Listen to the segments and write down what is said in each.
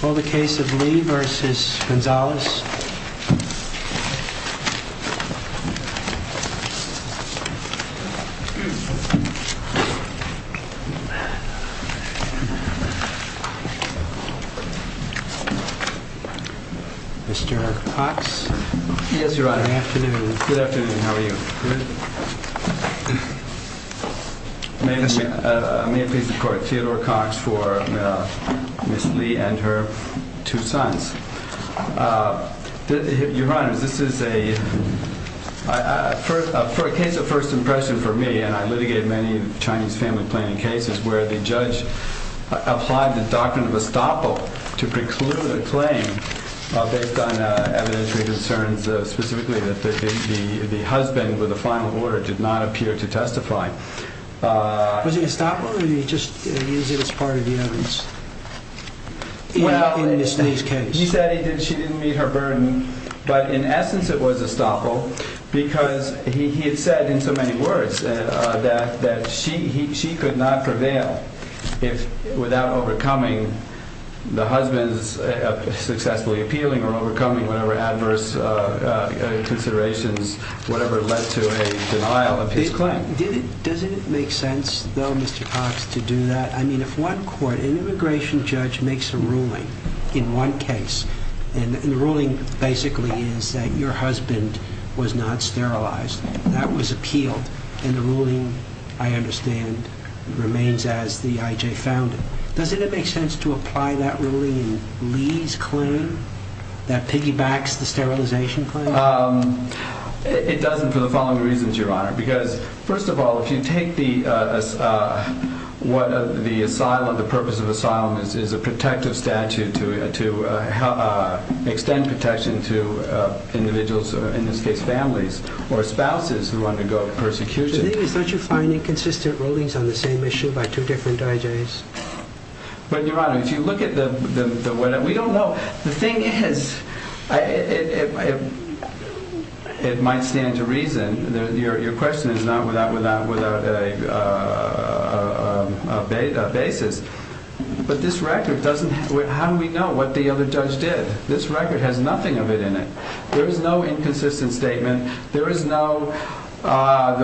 Caldwell. Mr. Hawks. Yes, Your Honor. Good afternoon. Good afternoon. How are you? Good. May it please the Court, Theodore Hawks for Ms. Lee and her two sons. Your Honor, this is a case of first impression for me, and I litigate many Chinese family planning cases where the judge applied the doctrine of estoppel to preclude a claim based on evidentiary concerns, specifically that the husband with the final order did not appear to testify. Was it estoppel, or did he just use it as part of the evidence in Lee's case? He said she didn't meet her burden, but in essence it was estoppel because he had said in so many words that she could not prevail without overcoming the husband's successfully appealing or overcoming whatever adverse considerations, whatever led to a denial of his claim. Does it make sense, though, Mr. Hawks, to do that? I mean, if one court, an immigration judge makes a ruling in one case, and the ruling basically is that your husband was not sterilized, that was appealed, and the ruling, I understand, remains as the I.J. found it. Does it make sense to apply that ruling in Lee's claim that piggybacks the sterilization claim? It doesn't for the following reasons, Your Honor. Because first of all, if you take the purpose of asylum as a protective statute to extend protection to individuals, in this case, families or spouses who undergo persecution. The thing is, don't you find inconsistent rulings on the same issue by two different I.J.'s? But, Your Honor, if you look at the way that we don't know, the thing is, it might stand to reason, your question is not without a basis, but this record doesn't, how do we know what the other judge did? This record has nothing of it in it. There is no inconsistent statement. There is no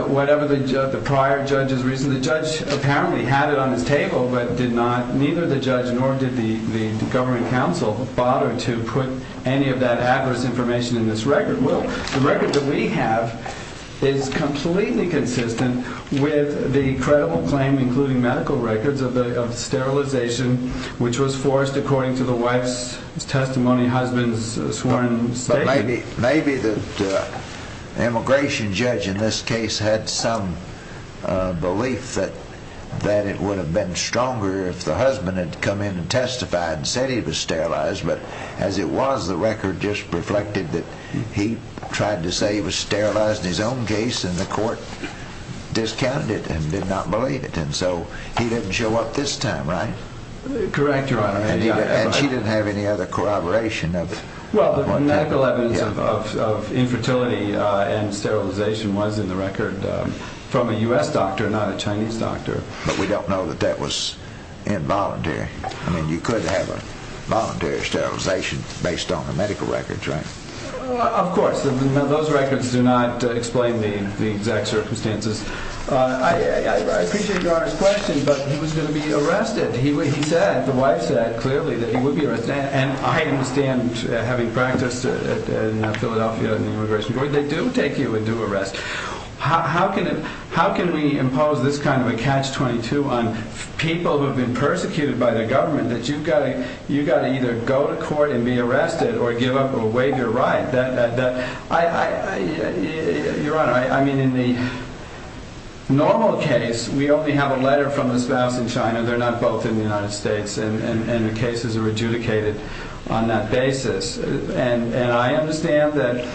whatever the prior judge's reason, the judge apparently had it on his table, but neither the judge nor did the government counsel bother to put any of that adverse information in this record. Well, the record that we have is completely consistent with the credible claim, including medical records, of sterilization, which was forced according to the wife's testimony, husband's sworn statement. Maybe the immigration judge in this case had some belief that it would have been stronger if the husband had come in and testified and said he was sterilized, but as it was, the record just reflected that he tried to say he was sterilized in his own case and the court discounted it and did not believe it, and so he didn't show up this time, right? Correct, Your Honor. And she didn't have any other corroboration of what happened? Well, the medical evidence of infertility and sterilization was in the record from a U.S. doctor, not a Chinese doctor. But we don't know that that was involuntary. I mean, you could have a voluntary sterilization based on the medical records, right? Of course. Those records do not explain the exact circumstances. I appreciate Your Honor's question, but he was going to be arrested. He said, the wife said clearly that he would be arrested. And I understand, having practiced in Philadelphia in the immigration court, they do take you into arrest. How can we impose this kind of a catch-22 on people who have been persecuted by the government that you've got to either go to court and be arrested or give up or waive your right? Your Honor, I mean, in the normal case, we only have a letter from the spouse in China. They're not both in the United States, and the cases are adjudicated on that basis. And I understand that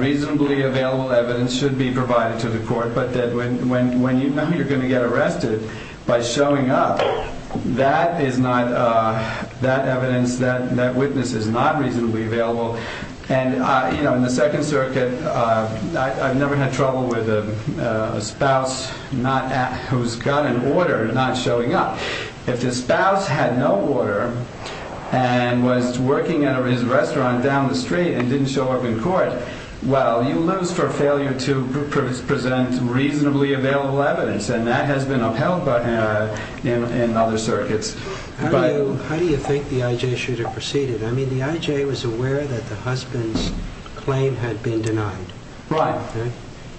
reasonably available evidence should be provided to the court. But when you know you're going to get arrested by showing up, that evidence, that witness is not reasonably available. And in the Second Circuit, I've never had trouble with a spouse who's got an order not showing up. If the spouse had no order and was working at a restaurant down the street and didn't show up in court, well, you lose for failure to present reasonably available evidence. And that has been upheld in other circuits. How do you think the I.J. shooter proceeded? I mean, the I.J. was aware that the husband's claim had been denied. Right.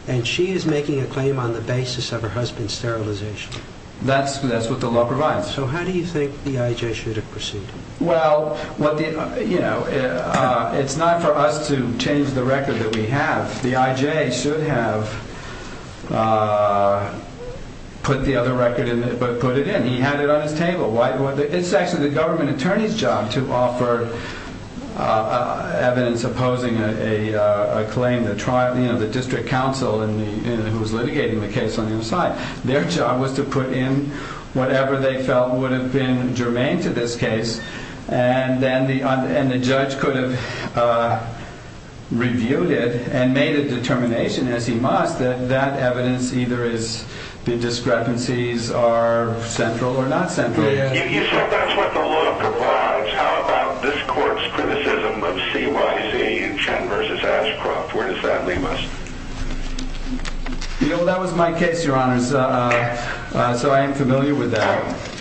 And she is making a claim on the basis of her husband's sterilization. That's what the law provides. So how do you think the I.J. shooter proceeded? Well, you know, it's not for us to change the record that we have. The I.J. should have put the other record in, but put it in. He had it on his table. It's actually the government attorney's job to offer evidence opposing a claim, the district counsel who was litigating the case on the other side. Their job was to put in whatever they felt would have been germane to this case. And then the judge could have reviewed it and made a determination, as he must, that that evidence either is the discrepancies are central or not central. You said that's what the law provides. How about this court's criticism of CYC and Chen v. Ashcroft? Where does that leave us? Well, that was my case, Your Honor, so I am familiar with that.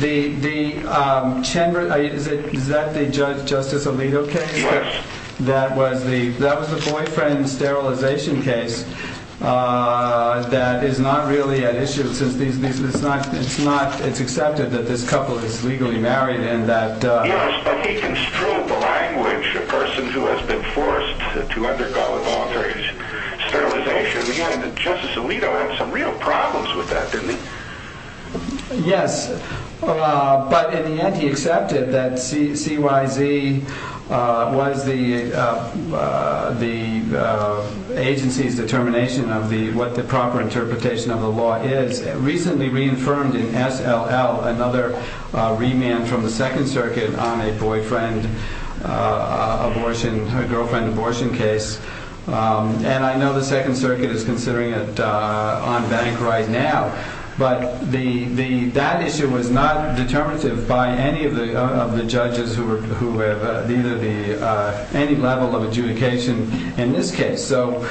The Chen, is that the Judge Justice Alito case? Yes. That was the boyfriend sterilization case that is not really at issue, since it's accepted that this couple is legally married and that... Yes, but he construed the language, a person who has been forced to undergo an alteration. Sterilization. Again, Justice Alito had some real problems with that, didn't he? Yes, but in the end he accepted that CYC was the agency's determination of what the proper interpretation of the law is. Recently reaffirmed in SLL, another remand from the Second Circuit on a boyfriend abortion, girlfriend abortion case. And I know the Second Circuit is considering it on bank right now. But that issue was not determinative by any of the judges who have any level of adjudication in this case. So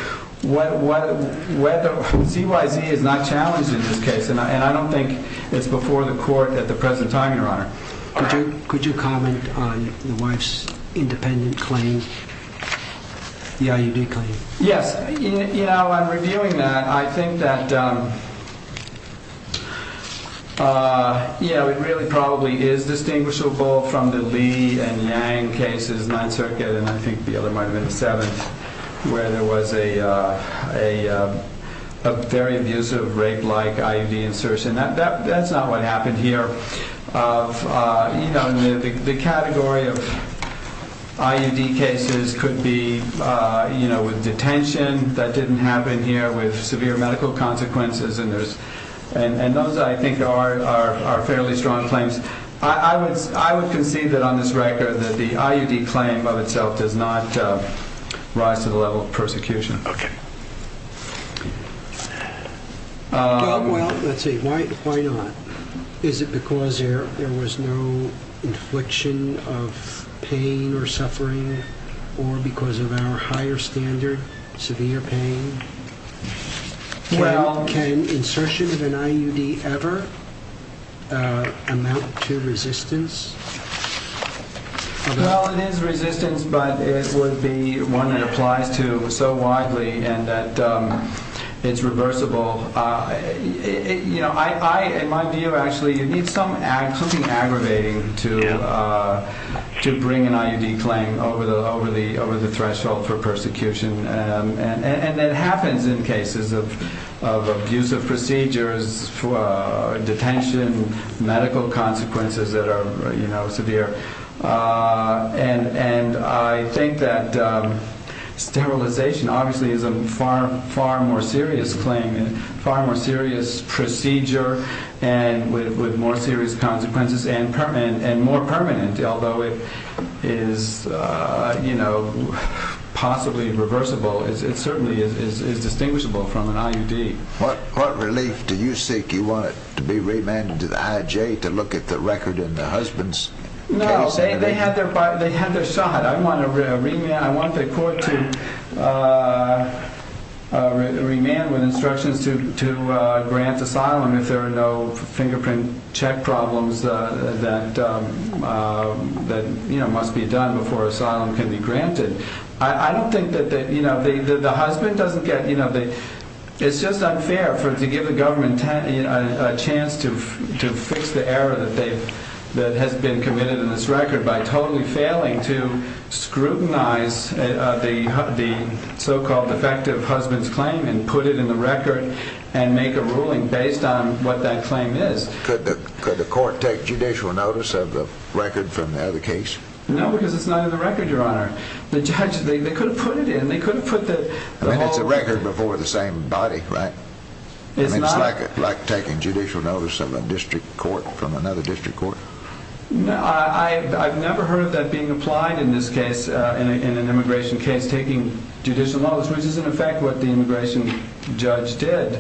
CYC is not challenged in this case. And I don't think it's before the court at the present time, Your Honor. Could you comment on the wife's independent claim? The IUD claim. Yes, you know, I'm reviewing that. I think that, you know, it really probably is distinguishable from the Lee and Yang cases, Ninth Circuit and I think the other might have been the Seventh, where there was a very abusive rape-like IUD insertion. That's not what happened here. But, you know, the category of IUD cases could be, you know, with detention. That didn't happen here with severe medical consequences. And those, I think, are fairly strong claims. I would concede that on this record that the IUD claim of itself Okay. Well, let's see. Why not? Is it because there was no infliction of pain or suffering or because of our higher standard, severe pain? Can insertion of an IUD ever amount to resistance? Well, it is resistance, but it would be one that applies to so widely and that it's reversible. You know, in my view, actually, it needs something aggravating to bring an IUD claim over the threshold for persecution. And it happens in cases of abusive procedures, detention, medical consequences that are, you know, severe. And I think that sterilization, obviously, is a far more serious claim, far more serious procedure with more serious consequences and more permanent. Although it is, you know, possibly reversible, it certainly is distinguishable from an IUD. What relief do you seek? You want it to be remanded to the IJ to look at the record in the husband's case? No, they had their shot. I want the court to remand with instructions to grant asylum if there are no fingerprint check problems that, you know, must be done before asylum can be granted. I don't think that, you know, the husband doesn't get, you know, it's just unfair to give the government a chance to fix the error that has been committed in this record by totally failing to scrutinize the so-called defective husband's claim and put it in the record and make a ruling based on what that claim is. Could the court take judicial notice of the record from the other case? No, because it's not in the record, Your Honor. The judge, they could have put it in. I mean, it's a record before the same body, right? I mean, it's like taking judicial notice of a district court from another district court. I've never heard of that being applied in this case, in an immigration case, taking judicial notice, which is in effect what the immigration judge did,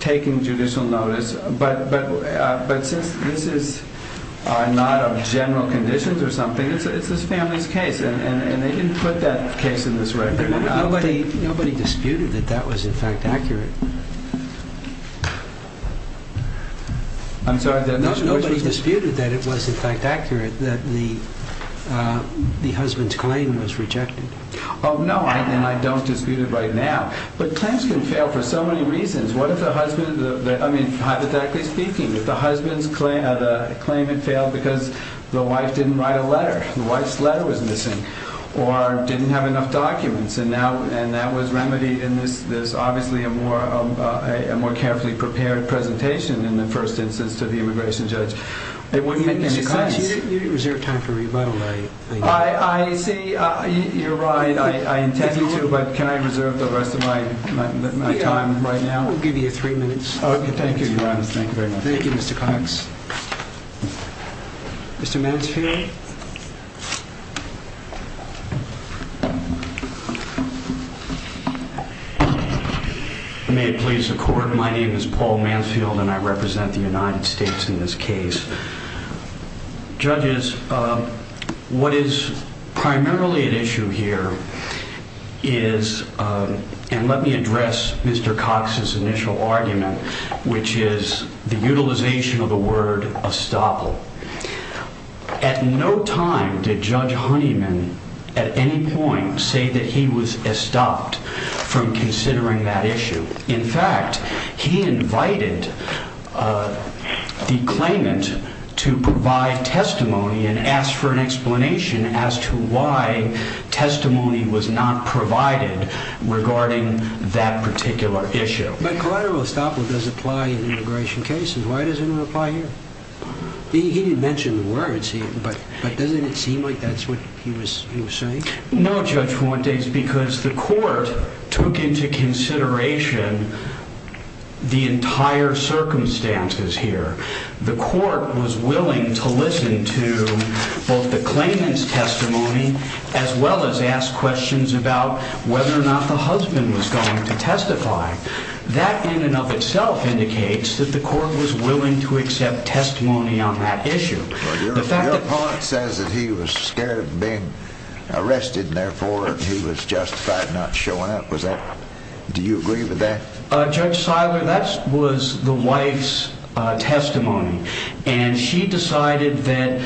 taking judicial notice, but since this is not of general conditions or something, it's this family's case, and they didn't put that case in this record. Nobody disputed that that was, in fact, accurate. I'm sorry? Nobody disputed that it was, in fact, accurate that the husband's claim was rejected. Oh, no, and I don't dispute it right now. But claims can fail for so many reasons. What if the husband, I mean, hypothetically speaking, if the husband's claim had failed because the wife didn't write a letter, the wife's letter was missing, or didn't have enough documents, and that was remedied in this, obviously, a more carefully prepared presentation in the first instance to the immigration judge. It wouldn't make any sense. You reserve time for rebuttal, I think. I see, you're right, I intend to, but can I reserve the rest of my time right now? We'll give you three minutes. Okay, thank you, Your Honor, thank you very much. Thank you, Mr. Cox. Mr. Mansfield? May it please the Court, my name is Paul Mansfield, and I represent the United States in this case. Judges, what is primarily at issue here is, and let me address Mr. Cox's initial argument, which is the utilization of the word estoppel. At no time did Judge Honeyman, at any point, say that he was estopped from considering that issue. In fact, he invited the claimant to provide testimony and ask for an explanation as to why testimony was not provided regarding that particular issue. But collateral estoppel does apply in immigration cases. Why doesn't it apply here? He didn't mention the words, but doesn't it seem like that's what he was saying? No, Judge Fuentes, because the Court took into consideration the entire circumstances here. The Court was willing to listen to both the claimant's testimony as well as ask questions about whether or not the husband was going to testify. That in and of itself indicates that the Court was willing to accept testimony on that issue. Your part says that he was scared of being arrested, and therefore he was justified not showing up. Do you agree with that? Judge Siler, that was the wife's testimony. And she decided that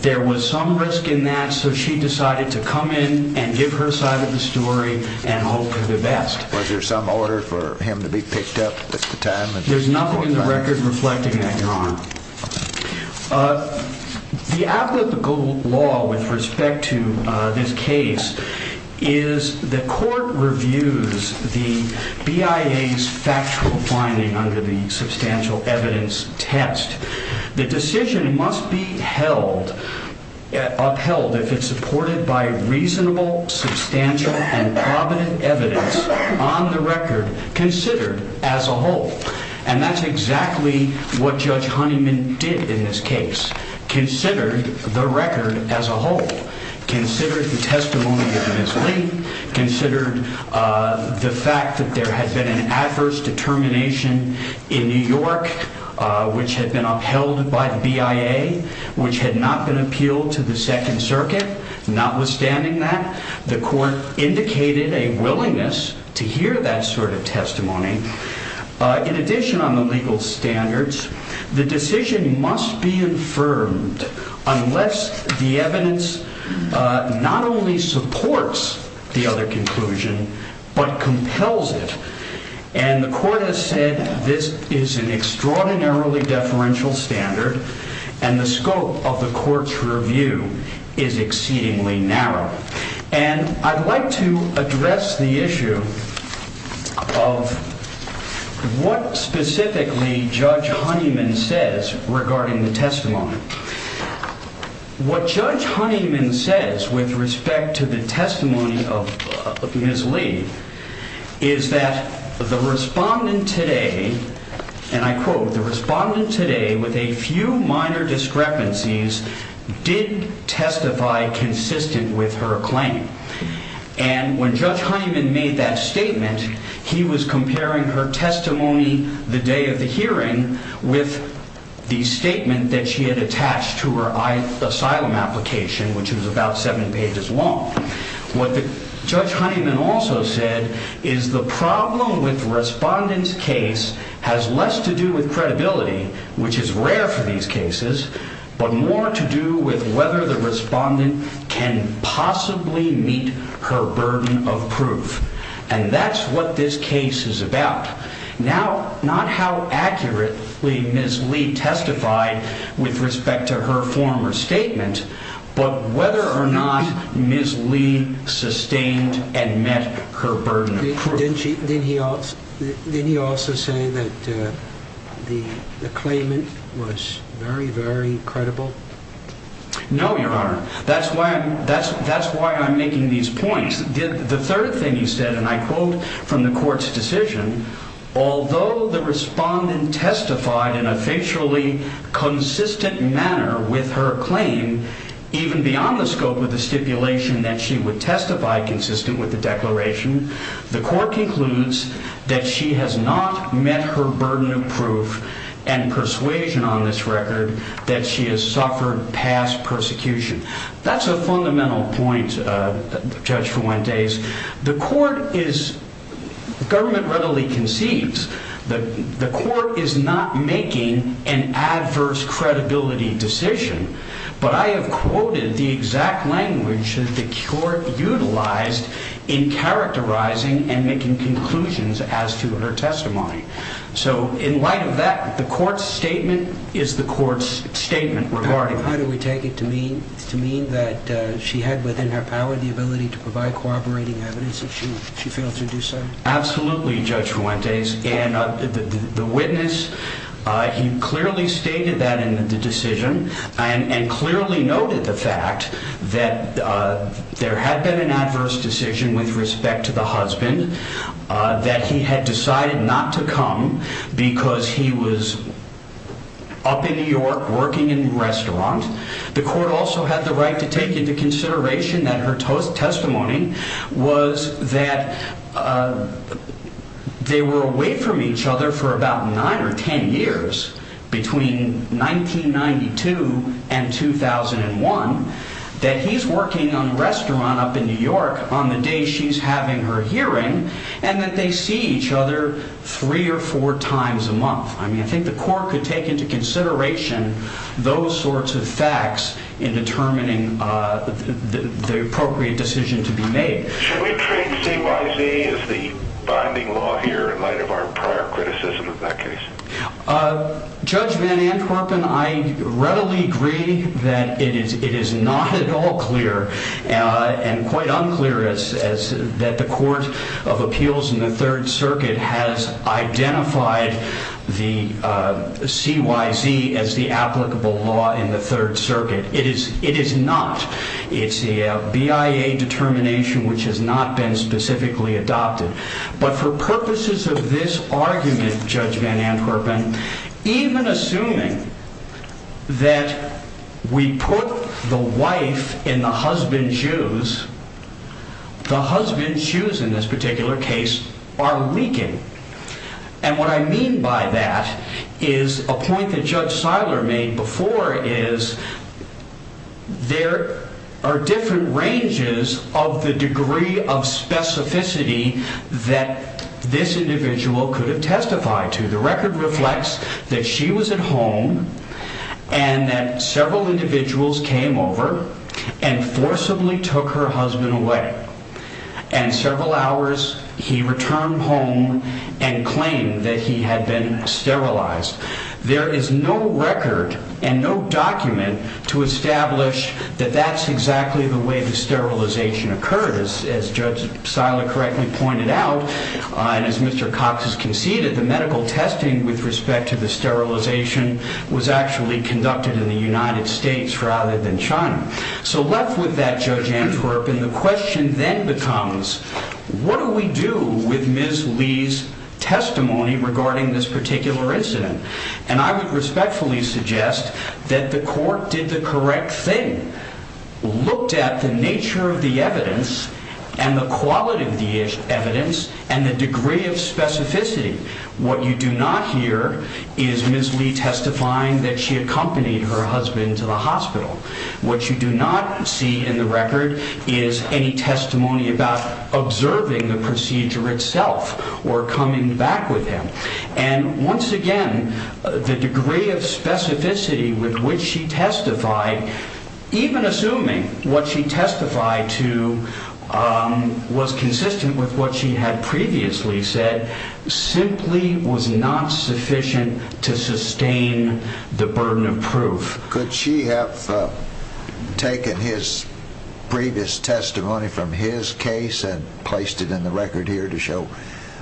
there was some risk in that, so she decided to come in and give her side of the story and hope for the best. Was there some order for him to be picked up at the time? There's nothing in the record reflecting that, Your Honor. The applicable law with respect to this case is the Court reviews the BIA's factual finding under the substantial evidence test. The decision must be upheld if it's supported by reasonable, substantial, and provident evidence on the record considered as a whole. And that's exactly what Judge Honeyman did in this case, considered the record as a whole, considered the testimony of Ms. Lee, considered the fact that there had been an adverse determination in New York which had been upheld by the BIA, which had not been appealed to the Second Circuit. Notwithstanding that, the Court indicated a willingness to hear that sort of testimony. In addition on the legal standards, the decision must be affirmed unless the evidence not only supports the other conclusion, but compels it. And the Court has said this is an extraordinarily deferential standard, and the scope of the Court's review is exceedingly narrow. And I'd like to address the issue of what specifically Judge Honeyman says regarding the testimony. What Judge Honeyman says with respect to the testimony of Ms. Lee is that the respondent today, and I quote, the respondent today, with a few minor discrepancies, did testify consistent with her claim. And when Judge Honeyman made that statement, he was comparing her testimony the day of the hearing with the statement that she had attached to her asylum application, which was about seven pages long. What Judge Honeyman also said is the problem with the respondent's case has less to do with credibility, which is rare for these cases, but more to do with whether the respondent can possibly meet her burden of proof. And that's what this case is about. Now, not how accurately Ms. Lee testified with respect to her former statement, but whether or not Ms. Lee sustained and met her burden of proof. Didn't he also say that the claimant was very, very credible? No, Your Honor. That's why I'm making these points. The third thing he said, and I quote from the court's decision, although the respondent testified in a facially consistent manner with her claim, even beyond the scope of the stipulation that she would testify consistent with the declaration, the court concludes that she has not met her burden of proof and persuasion on this record that she has suffered past persecution. That's a fundamental point, Judge Fuentes. The court is, government readily concedes, the court is not making an adverse credibility decision, but I have quoted the exact language that the court utilized in characterizing and making conclusions as to her testimony. So in light of that, the court's statement is the court's statement regarding her. How do we take it to mean that she had within her power the ability to provide cooperating evidence if she failed to do so? Absolutely, Judge Fuentes. And the witness, he clearly stated that in the decision. And clearly noted the fact that there had been an adverse decision with respect to the husband, that he had decided not to come because he was up in New York working in a restaurant. The court also had the right to take into consideration that her testimony was that they were away from each other for about nine or ten years between 1992 and 2001, that he's working on a restaurant up in New York on the day she's having her hearing, and that they see each other three or four times a month. I mean, I think the court could take into consideration those sorts of facts in determining the appropriate decision to be made. Should we treat CYZ as the binding law here in light of our prior criticism of that case? Judge Van Antwerpen, I readily agree that it is not at all clear and quite unclear that the Court of Appeals in the Third Circuit has identified the CYZ as the applicable law in the Third Circuit. It is not. It's a BIA determination which has not been specifically adopted. But for purposes of this argument, Judge Van Antwerpen, even assuming that we put the wife in the husband's shoes, the husband's shoes in this particular case are leaking. And what I mean by that is a point that Judge Seiler made before is there are different ranges of the degree of specificity that this individual could have testified to. The record reflects that she was at home and that several individuals came over and forcibly took her husband away. And several hours he returned home and claimed that he had been sterilized. There is no record and no document to establish that that's exactly the way the sterilization occurred. As Judge Seiler correctly pointed out and as Mr. Cox has conceded, the medical testing with respect to the sterilization was actually conducted in the United States rather than China. So left with that, Judge Antwerpen, the question then becomes what do we do with Ms. Lee's testimony regarding this particular incident? And I would respectfully suggest that the court did the correct thing, looked at the nature of the evidence and the quality of the evidence and the degree of specificity. What you do not hear is Ms. Lee testifying that she accompanied her husband to the hospital. What you do not see in the record is any testimony about observing the procedure itself or coming back with him. And once again, the degree of specificity with which she testified, even assuming what she testified to was consistent with what she had previously said, simply was not sufficient to sustain the burden of proof. Could she have taken his previous testimony from his case and placed it in the record here to show,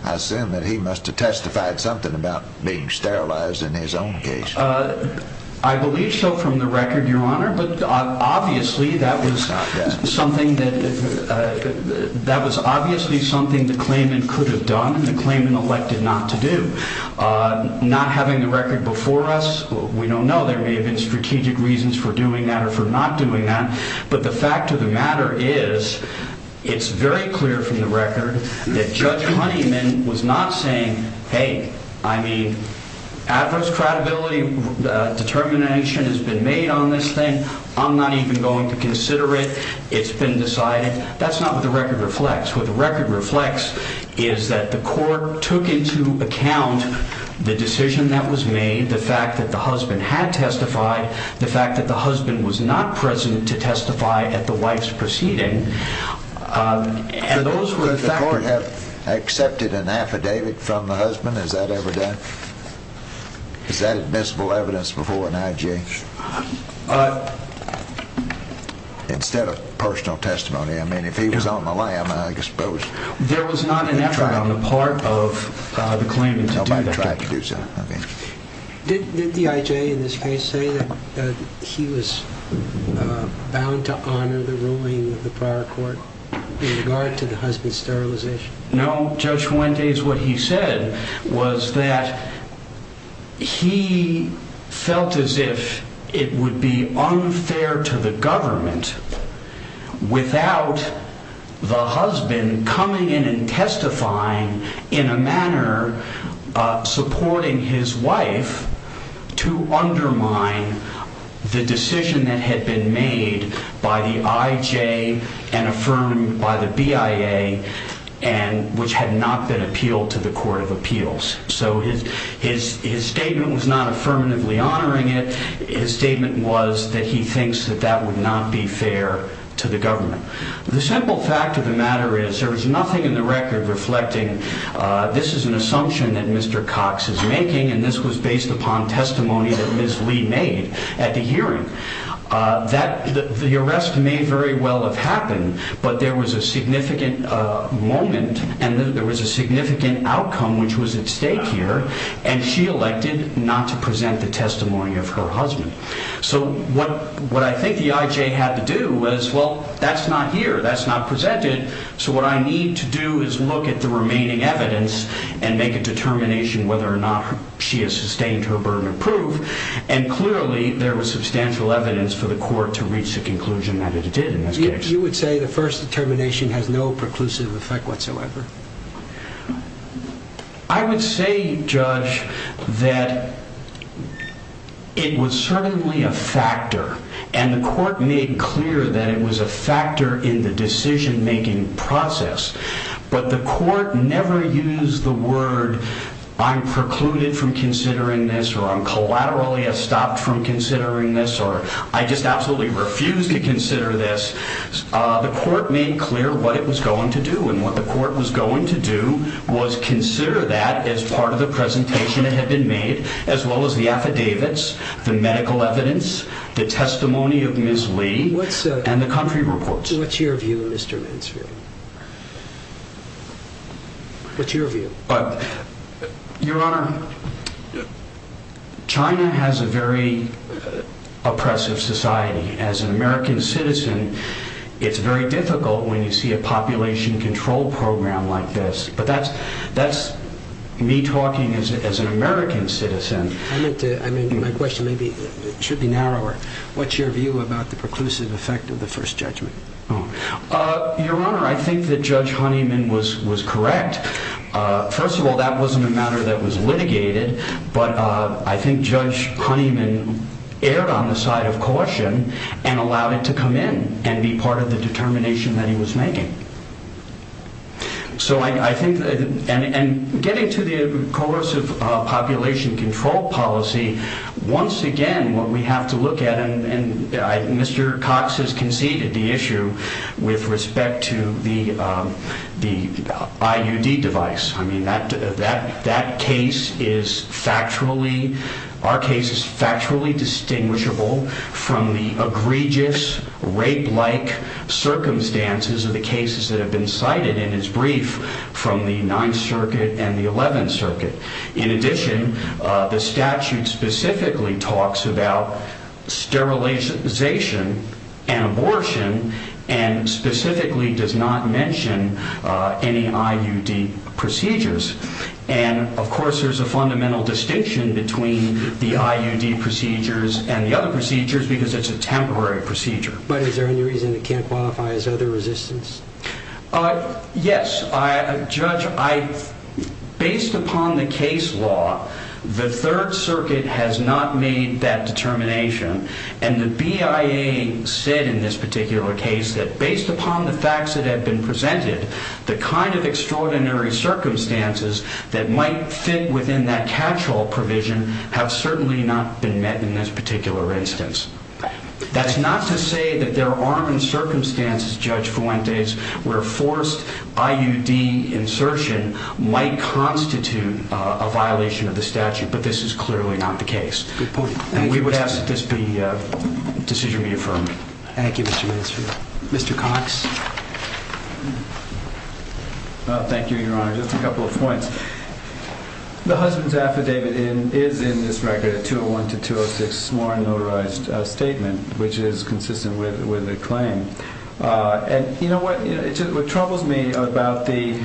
I assume, that he must have testified something about being sterilized in his own case? I believe so from the record, Your Honor. But obviously that was something that was obviously something the claimant could have done and the claimant elected not to do. Not having the record before us, we don't know. There may have been strategic reasons for doing that or for not doing that. But the fact of the matter is, it's very clear from the record that Judge Honeyman was not saying, hey, I mean, adverse credibility determination has been made on this thing. I'm not even going to consider it. It's been decided. That's not what the record reflects. What the record reflects is that the court took into account the decision that was made, the fact that the husband had testified, the fact that the husband was not present to testify at the wife's proceeding. Could the court have accepted an affidavit from the husband? Has that ever done? Is that admissible evidence before an I.J.? Instead of personal testimony. I mean, if he was on the lam, I suppose. There was not an effort on the part of the claimant to do that. Nobody tried to do so. Did the I.J. in this case say that he was bound to honor the ruling of the prior court in regard to the husband's sterilization? No. Judge Fuentes, what he said was that he felt as if it would be unfair to the government without the husband coming in and testifying in a manner supporting his wife to undermine the decision that had been made by the I.J. and affirmed by the B.I.A. which had not been appealed to the court of appeals. So his statement was not affirmatively honoring it. His statement was that he thinks that that would not be fair to the government. The simple fact of the matter is there is nothing in the record reflecting this is an assumption that Mr. Cox is making and this was based upon testimony that Ms. Lee made at the hearing. The arrest may very well have happened, but there was a significant moment and there was a significant outcome which was at stake here and she elected not to present the testimony of her husband. So what I think the I.J. had to do was, well that's not here, that's not presented so what I need to do is look at the remaining evidence and make a determination whether or not she has sustained her burden of proof and clearly there was substantial evidence for the court to reach the conclusion that it did in this case. You would say the first determination has no preclusive effect whatsoever? I would say, Judge, that it was certainly a factor and the court made clear that it was a factor in the decision-making process but the court never used the word, I'm precluded from considering this or I'm collaterally stopped from considering this or I just absolutely refuse to consider this. The court made clear what it was going to do and what the court was going to do was consider that as part of the presentation that had been made as well as the affidavits, the medical evidence, the testimony of Ms. Lee and the country reports. What's your view, Mr. Mansfield? What's your view? Your Honor, China has a very oppressive society. As an American citizen, it's very difficult when you see a population control program like this but that's me talking as an American citizen. My question should be narrower. What's your view about the preclusive effect of the first judgment? Your Honor, I think that Judge Honeyman was correct. First of all, that wasn't a matter that was litigated but I think Judge Honeyman erred on the side of caution and allowed it to come in and be part of the determination that he was making. Getting to the coercive population control policy, once again, what we have to look at and Mr. Cox has conceded the issue with respect to the IUD device. That case is factually distinguishable from the egregious, rape-like circumstances of the cases that have been cited in his brief from the 9th Circuit and the 11th Circuit. In addition, the statute specifically talks about sterilization and abortion and specifically does not mention any IUD procedures. Of course, there's a fundamental distinction between the IUD procedures and the other procedures because it's a temporary procedure. But is there any reason it can't qualify as other resistance? Yes. Judge, based upon the case law, the 3rd Circuit has not made that determination and the BIA said in this particular case that based upon the facts that have been presented, the kind of extraordinary circumstances that might fit within that catch-all provision have certainly not been met in this particular instance. That's not to say that there aren't in circumstances, Judge Fuentes, where forced IUD insertion might constitute a violation of the statute, but this is clearly not the case. Good point. We would ask that this decision be affirmed. Thank you, Mr. Minister. Mr. Cox. Thank you, Your Honor. Just a couple of points. The husband's affidavit is in this record a 201-206 sworn and notarized statement, which is consistent with the claim. And you know what troubles me about the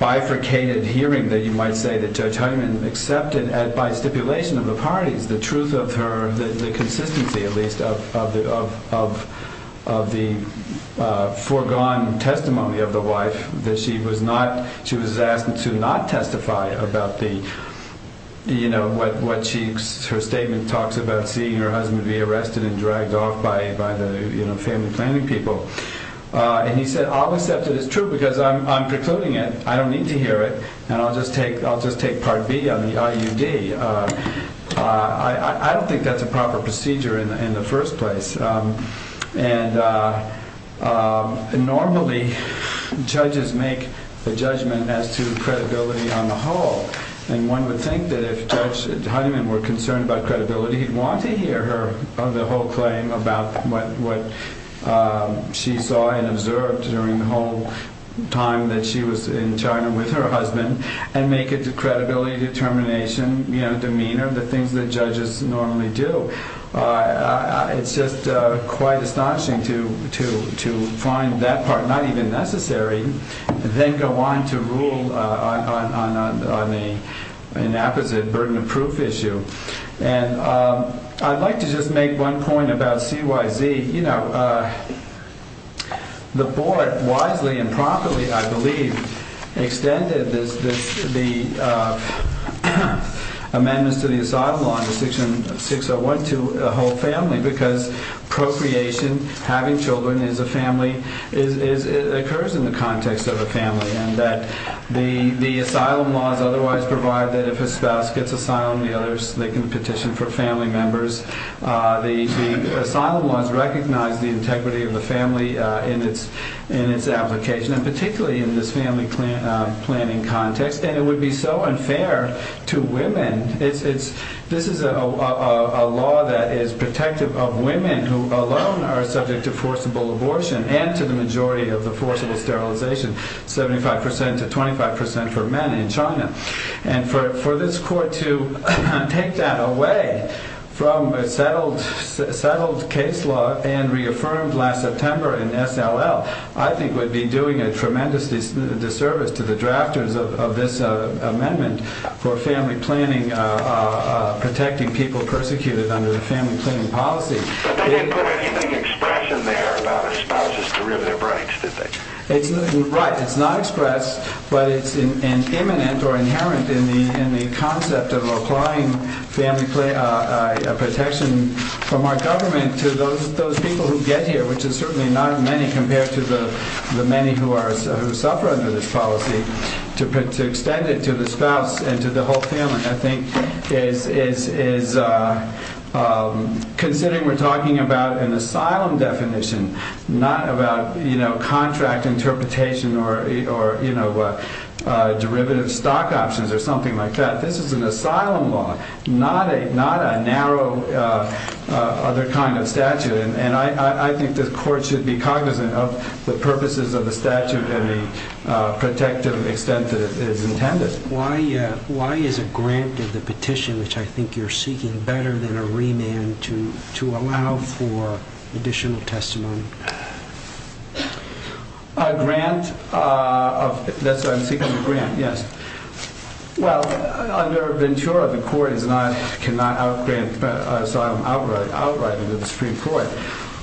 bifurcated hearing that you might say that Judge Hyman accepted by stipulation of the parties, the truth of her, the consistency, at least, of the foregone testimony of the wife that she was asked to not testify about what her statement talks about, seeing her husband be arrested and dragged off by the family planning people. And he said, I'll accept it as true because I'm precluding it. I don't need to hear it. And I'll just take Part B on the IUD. I don't think that's a proper procedure in the first place. And normally, judges make the judgment as to credibility on the whole. And one would think that if Judge Hyman were concerned about credibility, he'd want to hear her, the whole claim, about what she saw and observed during the whole time that she was in China with her husband and make it a credibility determination, you know, demeanor, the things that judges normally do. It's just quite astonishing to find that part not even necessary, then go on to rule on an apposite burden of proof issue. And I'd like to just make one point about CYZ. You know, the board wisely and properly, I believe, extended the amendments to the asylum law in section 601 to a whole family because procreation, having children is a family, occurs in the context of a family and that the asylum laws otherwise provide that if a spouse gets asylum, the others, they can petition for family members. The asylum laws recognize the integrity of the family in its application and particularly in this family planning context and it would be so unfair to women. This is a law that is protective of women who alone are subject to forcible abortion and to the majority of the forcible sterilization, 75% to 25% for men in China. And for this court to take that away from a settled case law and reaffirmed last September in S.L.L. I think would be doing a tremendous disservice to the drafters of this amendment for family planning protecting people persecuted under the family planning policy. But they didn't put anything express in there about spouses to rip their brains, did they? Right, it's not expressed but it's imminent or inherent in the concept of applying protection from our government to those people who get here which is certainly not many compared to the many who suffer under this policy to extend it to the spouse and to the whole family I think is considering we're talking about an asylum definition not about contract interpretation or derivative stock options or something like that. This is an asylum law not a narrow other kind of statute and I think the court should be cognizant of the purposes of the statute and the protective extent that it is intended. Why is a grant of the petition which I think you're seeking better than a remand to allow for additional testimony? A grant? That's what I'm seeking a grant, yes. Well, under Ventura the court is not outright into the Supreme Court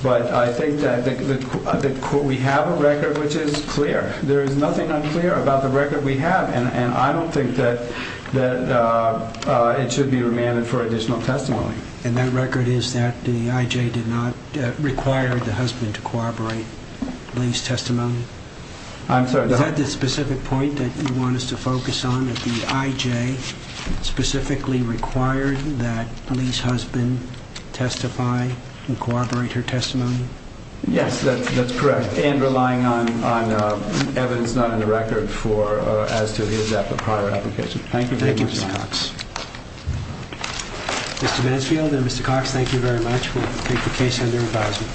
but I think we have a record which is clear there is nothing unclear about the record we have and I don't think that it should be remanded for additional testimony. And that record is that the IJ did not require the husband to corroborate Lee's testimony? I'm sorry. Is that the specific point that you want us to focus on that the IJ specifically required that Lee's husband testify and corroborate her testimony? Yes, that's correct and relying on evidence not in the record as to his prior application. Thank you, Mr. Cox. Mr. Mansfield and Mr. Cox thank you very much we'll take the case under advisement.